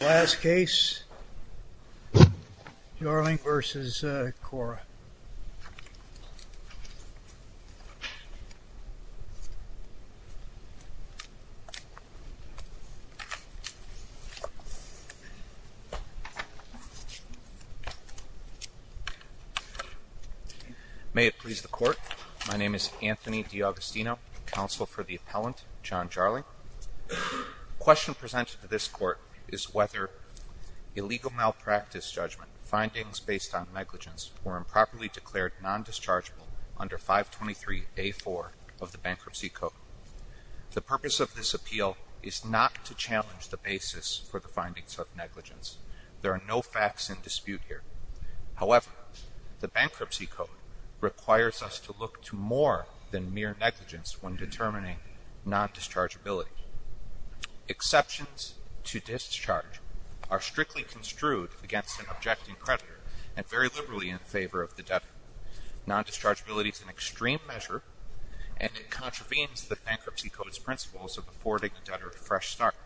Last case, Jarling v. Cora. May it please the court, my name is Anthony D'Augustino, counsel for the appellant, John Jarling. The question presented to this court is whether illegal malpractice judgment, findings based on negligence, were improperly declared nondischargeable under 523A4 of the bankruptcy code. The purpose of this appeal is not to challenge the basis for the findings of negligence. There are no facts in dispute here. However, the bankruptcy code requires us to look to more than mere negligence when determining nondischargeability. Exceptions to discharge are strictly construed against an objecting creditor and very liberally in favor of the debtor. Nondischargeability is an extreme measure and it contravenes the bankruptcy code's principles of affording the debtor a fresh start.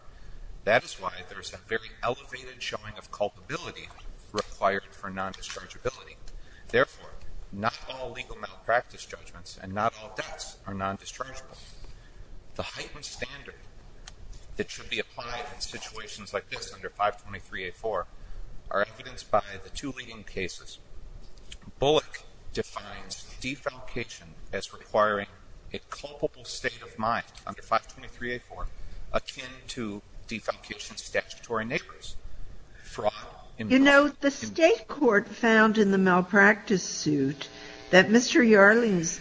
That is why there is a very elevated showing of culpability required for nondischargeability. Therefore, not all legal malpractice judgments and not all debts are nondischargeable. The heightened standard that should be applied in situations like this under 523A4 are evidenced by the two leading cases. Bullock defines defalcation as requiring a culpable state of mind under 523A4 akin to a state of mind that is not subject to defalcation statutory natures. Fraud, immoral, immoral. Sotomayor, you know, the State court found in the malpractice suit that Mr. Yarling's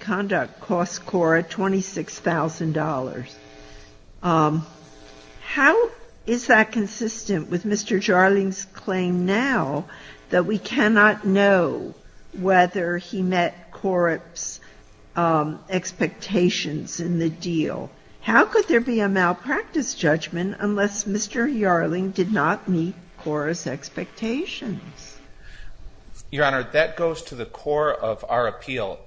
conduct cost Cora $26,000. How is that consistent with Mr. Yarling's claim now that we cannot know whether he met Cora's expectations in the deal? It's a malpractice judgment unless Mr. Yarling did not meet Cora's expectations. Your Honor, that goes to the core of our appeal.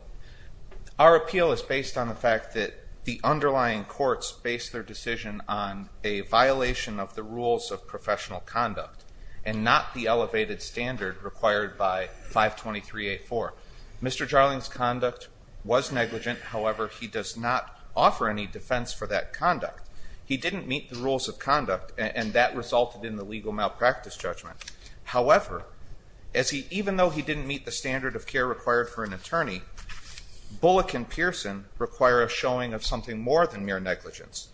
Our appeal is based on the fact that the underlying courts based their decision on a violation of the rules of professional conduct and not the elevated standard required by 523A4. Mr. Yarling's conduct was negligent. However, he does not offer any defense for that conduct. He didn't meet the rules of conduct and that resulted in the legal malpractice judgment. However, even though he didn't meet the standard of care required for an attorney, Bullock and Pearson require a showing of something more than mere negligence.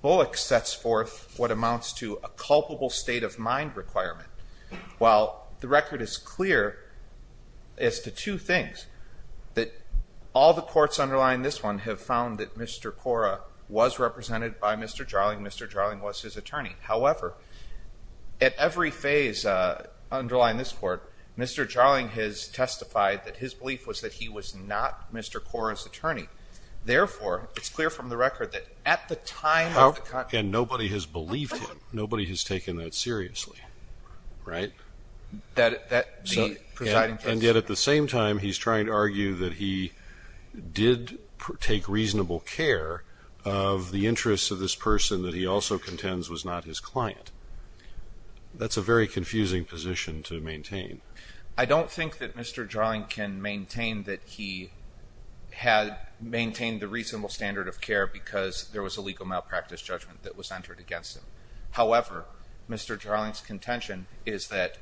Bullock sets forth what amounts to a culpable state of mind requirement. While the record is clear as to two things. First, that all the courts underlying this one have found that Mr. Cora was represented by Mr. Yarling. Mr. Yarling was his attorney. However, at every phase underlying this court, Mr. Yarling has testified that his belief was that he was not Mr. Cora's attorney. Therefore, it's clear from the record that at the time of the con... And nobody has believed him. Nobody has taken that seriously, right? And yet at the same time, he's trying to argue that he did take reasonable care of the interests of this person that he also contends was not his client. That's a very confusing position to maintain. I don't think that Mr. Yarling can maintain that he had maintained the reasonable standard of care because there was a legal malpractice judgment that was entered against him. However, Mr. Yarling's contention is that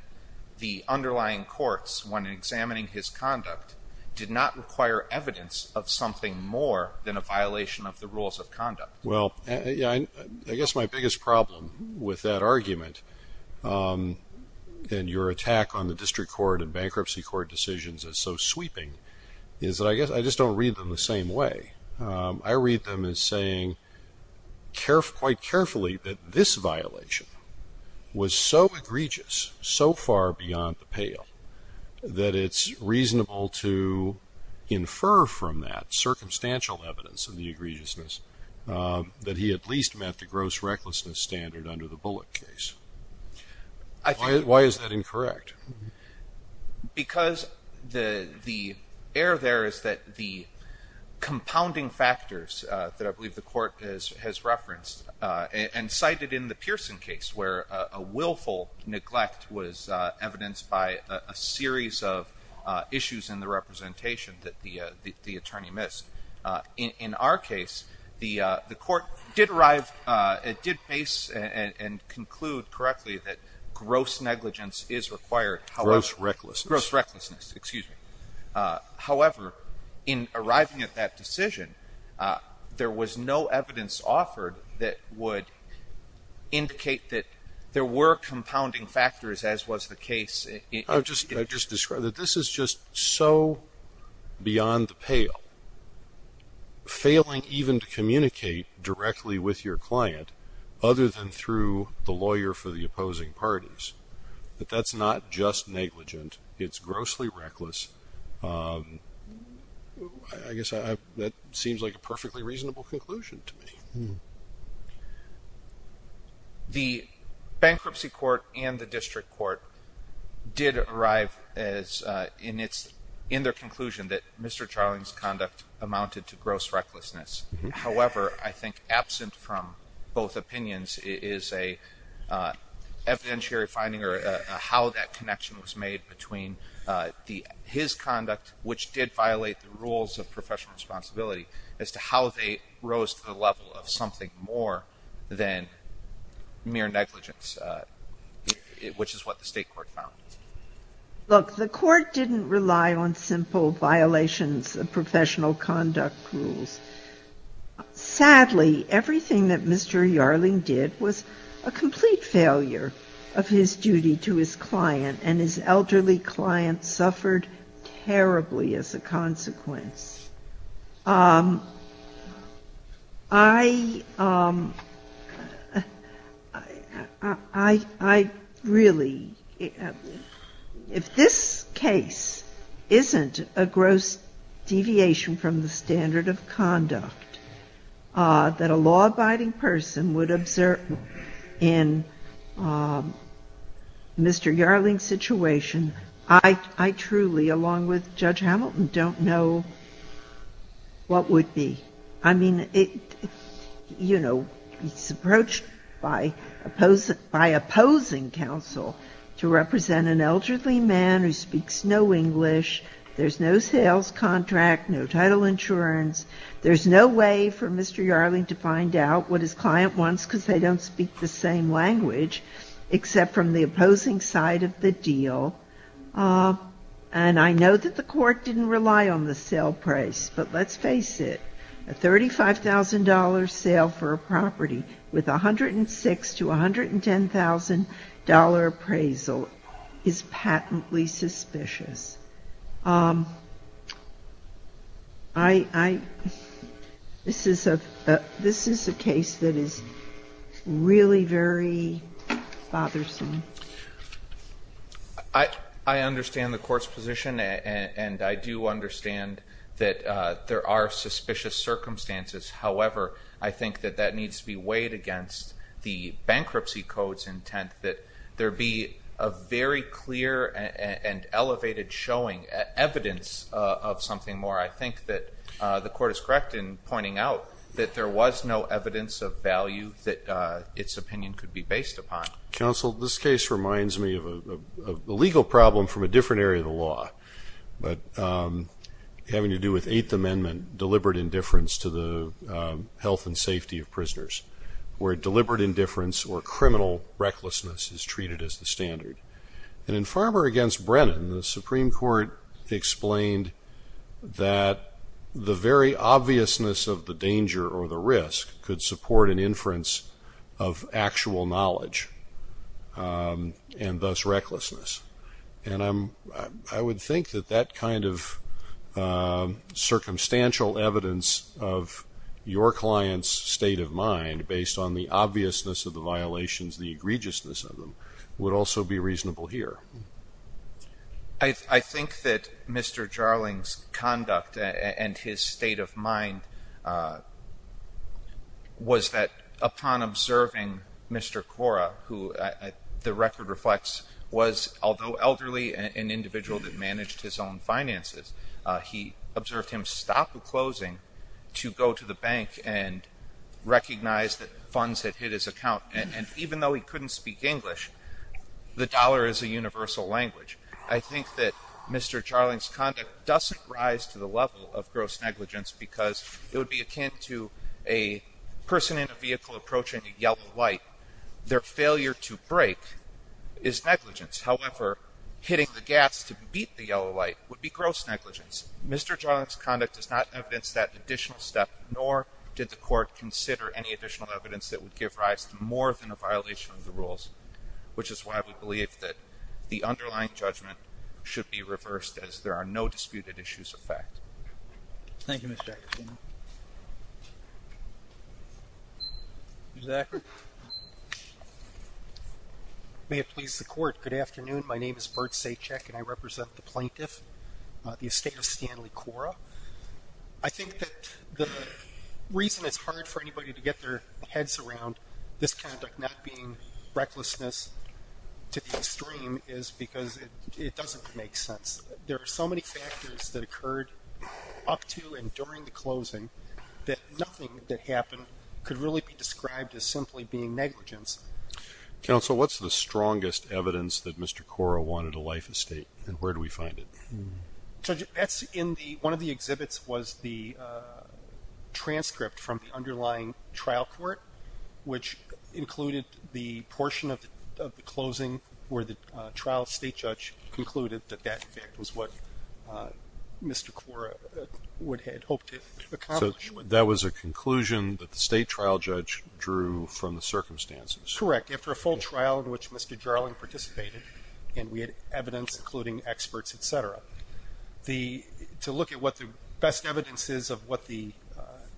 the underlying courts, when examining his conduct, did not require evidence of something more than a violation of the rules of conduct. Well, I guess my biggest problem with that argument, and your attack on the district court and bankruptcy court decisions is so sweeping, is that I guess I just don't read them the same way. I read them as saying quite carefully that this violation was so egregious, so far beyond the pale, that it's reasonable to infer from that circumstantial evidence of the egregiousness that he at least met the gross recklessness standard under the Bullock case. Why is that incorrect? Because the error there is that the compounding factors that I believe the court has referenced, and cited in the Pearson case where a willful neglect was evidenced by a series of issues in the representation that the attorney missed. In our case, the court did base and conclude correctly that gross negligence is required under the Bullock case. Gross recklessness, excuse me. However, in arriving at that decision, there was no evidence offered that would indicate that there were compounding factors, as was the case. I've just described that this is just so beyond the pale. Failing even to communicate directly with your client, other than through the lawyer for the opposing parties. That's not just negligent, it's grossly reckless. I guess that seems like a perfectly reasonable conclusion to me. The bankruptcy court and the district court did arrive in their conclusion that Mr. Charling's conduct amounted to gross recklessness. However, I think absent from both opinions is an evidentiary finding that Mr. Charling's conduct amounted to gross recklessness. I'm not sure if that's an evidentiary finding or how that connection was made between his conduct, which did violate the rules of professional responsibility, as to how they rose to the level of something more than mere negligence, which is what the state court found. Look, the court didn't rely on simple violations of professional conduct rules. Sadly, everything that Mr. Yarling did was a complete failure of his duty to his client, and his elderly client suffered terribly as a consequence. I really, if this case isn't a gross deviation from the standard of conduct that a law-abiding person would observe in Mr. Yarling's situation, I truly, along with Judge Hamilton, don't know what would be. I mean, it's approached by opposing counsel to represent an elderly man who speaks no English, there's no sales contract, no title insurance, there's no way for Mr. Yarling to find out what his client wants because they don't speak the same language, except from the opposing side of the deal. And I know that the court didn't rely on the sale price, but let's face it, a $35,000 sale for a property with $106,000 to $110,000 appraisal is patently suspicious. I, this is a case that is really very bothersome. I understand the court's position, and I do understand that there are suspicious circumstances. However, I think that that needs to be weighed against the bankruptcy code's intent, that there be a very clear and elevated showing, evidence of something more. I think that the court is correct in pointing out that there was no evidence of value that its opinion could be based upon. Counsel, this case reminds me of a legal problem from a different area of the law, but having to do with Eighth Amendment deliberate indifference to the health and safety of prisoners, where deliberate indifference or criminal recklessness is treated as the standard. And in Farmer v. Brennan, the Supreme Court explained that the very obviousness of the danger or the risk could support an inference of actual knowledge, and thus recklessness. And I would think that that kind of circumstantial evidence of your client's state of mind based on the obviousness of the violations, the egregiousness of them, would also be reasonable here. I think that Mr. Jarling's conduct and his state of mind was that upon observing Mr. Cora, who the record reflects was, although elderly, an individual that managed his own finances, he observed him stop a closing to go to the bank and recognize that funds had hit his account. And even though he couldn't speak English, the dollar is a universal language. I think that Mr. Jarling's conduct doesn't rise to the level of gross negligence because it would be akin to a person in a vehicle approaching a yellow light. Their failure to brake is negligence. However, hitting the gas to beat the yellow light would be gross negligence. Mr. Jarling's conduct does not evidence that additional step, nor did the Court consider any additional evidence that would give rise to more than a violation of the rules, which is why we believe that the underlying judgment should be reversed, as there are no disputed issues of fact. Thank you, Mr. Ackerman. Mr. Ackerman. May it please the Court, good afternoon. My name is Bert Saichek, and I represent the plaintiff, the estate of Stanley Cora. I think that the reason it's hard for anybody to get their heads around this conduct not being recklessness to the extreme is because it doesn't make sense. There are so many factors that occurred up to and during the closing that nothing that happened could really be described as simply being negligence. Counsel, what's the strongest evidence that Mr. Cora wanted a life estate, and where do we find it? One of the exhibits was the transcript from the underlying trial court, which included the portion of the closing where the trial state judge concluded that that, in fact, was what Mr. Cora had hoped to accomplish. So that was a conclusion that the state trial judge drew from the circumstances? Correct, after a full trial in which Mr. Jarling participated, and we had evidence including experts, et cetera. To look at what the best evidence is of what the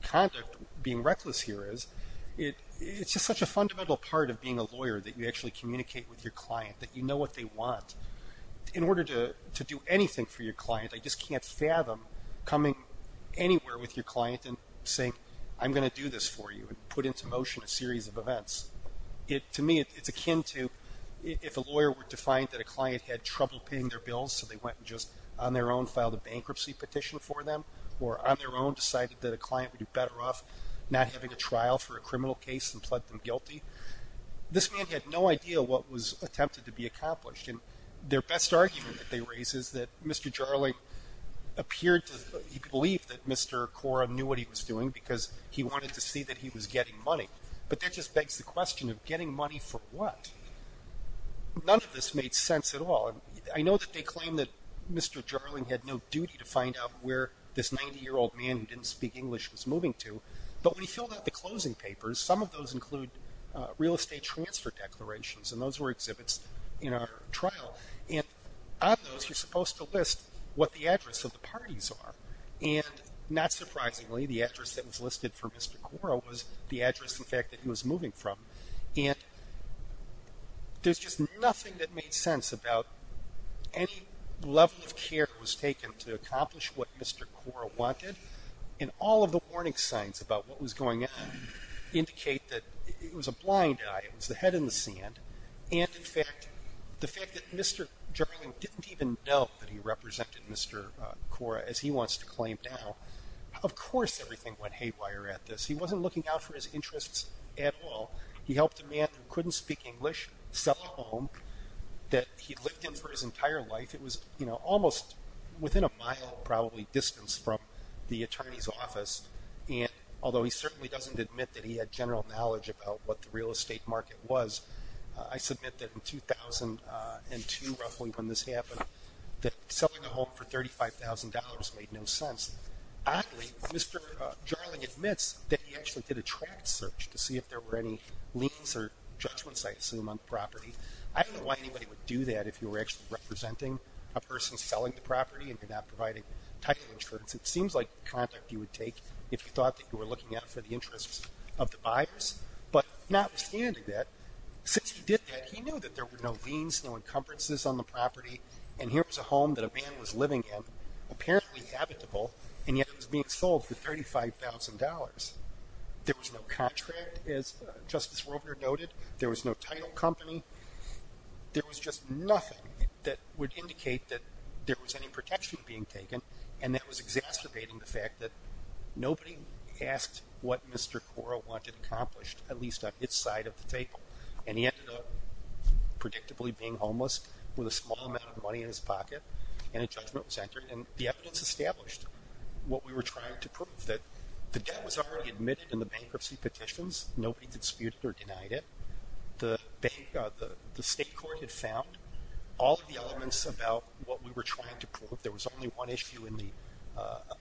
conduct being reckless here is, it's just such a fundamental part of being a lawyer, that you actually communicate with your client, that you know what they want. In order to do anything for your client, I just can't fathom coming anywhere with your client and saying, I'm going to do this for you, and put into motion a series of events. To me, it's akin to if a lawyer were to find that a client had trouble paying their bills, so they went and just on their own filed a bankruptcy petition for them, or on their own decided that a client would do better off not having a trial for a criminal case and pled them guilty. This man had no idea what was attempted to be accomplished, and their best argument that they raise is that Mr. Jarling appeared to believe that Mr. Cora knew what he was doing, because he wanted to see that he was getting money. But that just begs the question of getting money for what? None of this made sense at all. I know that they claim that Mr. Jarling had no duty to find out where this 90-year-old man who didn't speak English was moving to, but when he filled out the closing papers, some of those include real estate transfer declarations, and those were exhibits in our trial. And on those, you're supposed to list what the address of the parties are. And not surprisingly, the address that was listed for Mr. Cora was the address, in fact, that he was moving from. And there's just nothing that made sense about any level of care that was taken to accomplish what Mr. Cora wanted, and all of the warning signs about what was going on indicate that it was a blind eye. It was the head in the sand. And, in fact, the fact that Mr. Jarling didn't even know that he represented Mr. Cora, as he wants to claim now, of course everything went haywire at this. He wasn't looking out for his interests at all. He helped a man who couldn't speak English sell a home that he'd lived in for his entire life. It was almost within a mile, probably, distance from the attorney's office, and although he certainly doesn't admit that he had general knowledge about what the real estate market was, I submit that in 2002, roughly, when this happened, that selling a home for $35,000 made no sense. Oddly, Mr. Jarling admits that he actually did a tract search to see if there were any liens or judgments, I assume, on the property. I don't know why anybody would do that if you were actually representing a person selling the property and you're not providing title insurance. It seems like the contact you would take if you thought that you were looking out for the interests of the buyers. But notwithstanding that, since he did that, he knew that there were no liens, no encumbrances on the property, and here was a home that a man was living in, apparently habitable, and yet it was being sold for $35,000. There was no contract, as Justice Roebner noted. There was no title company. There was just nothing that would indicate that there was any protection being taken, and that was exacerbating the fact that nobody asked what Mr. Cora wanted accomplished, at least on its side of the table. And he ended up predictably being homeless with a small amount of money in his pocket, and a judgment was entered, and the evidence established what we were trying to prove, that the debt was already admitted in the bankruptcy petitions. Nobody disputed or denied it. The state court had found all of the elements about what we were trying to prove. There was only one issue in the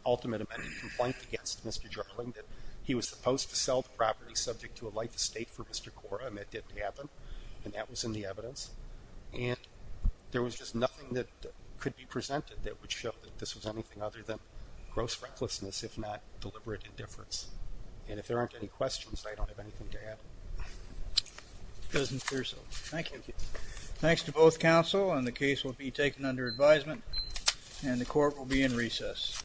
ultimate amended complaint against Mr. Jarling, that he was supposed to sell the property subject to a life estate for Mr. Cora, and that didn't happen, and that was in the evidence. And there was just nothing that could be presented that would show that this was anything other than gross recklessness, if not deliberate indifference. And if there aren't any questions, I don't have anything to add. It doesn't appear so. Thank you. Thanks to both counsel, and the case will be taken under advisement, and the court will be in recess.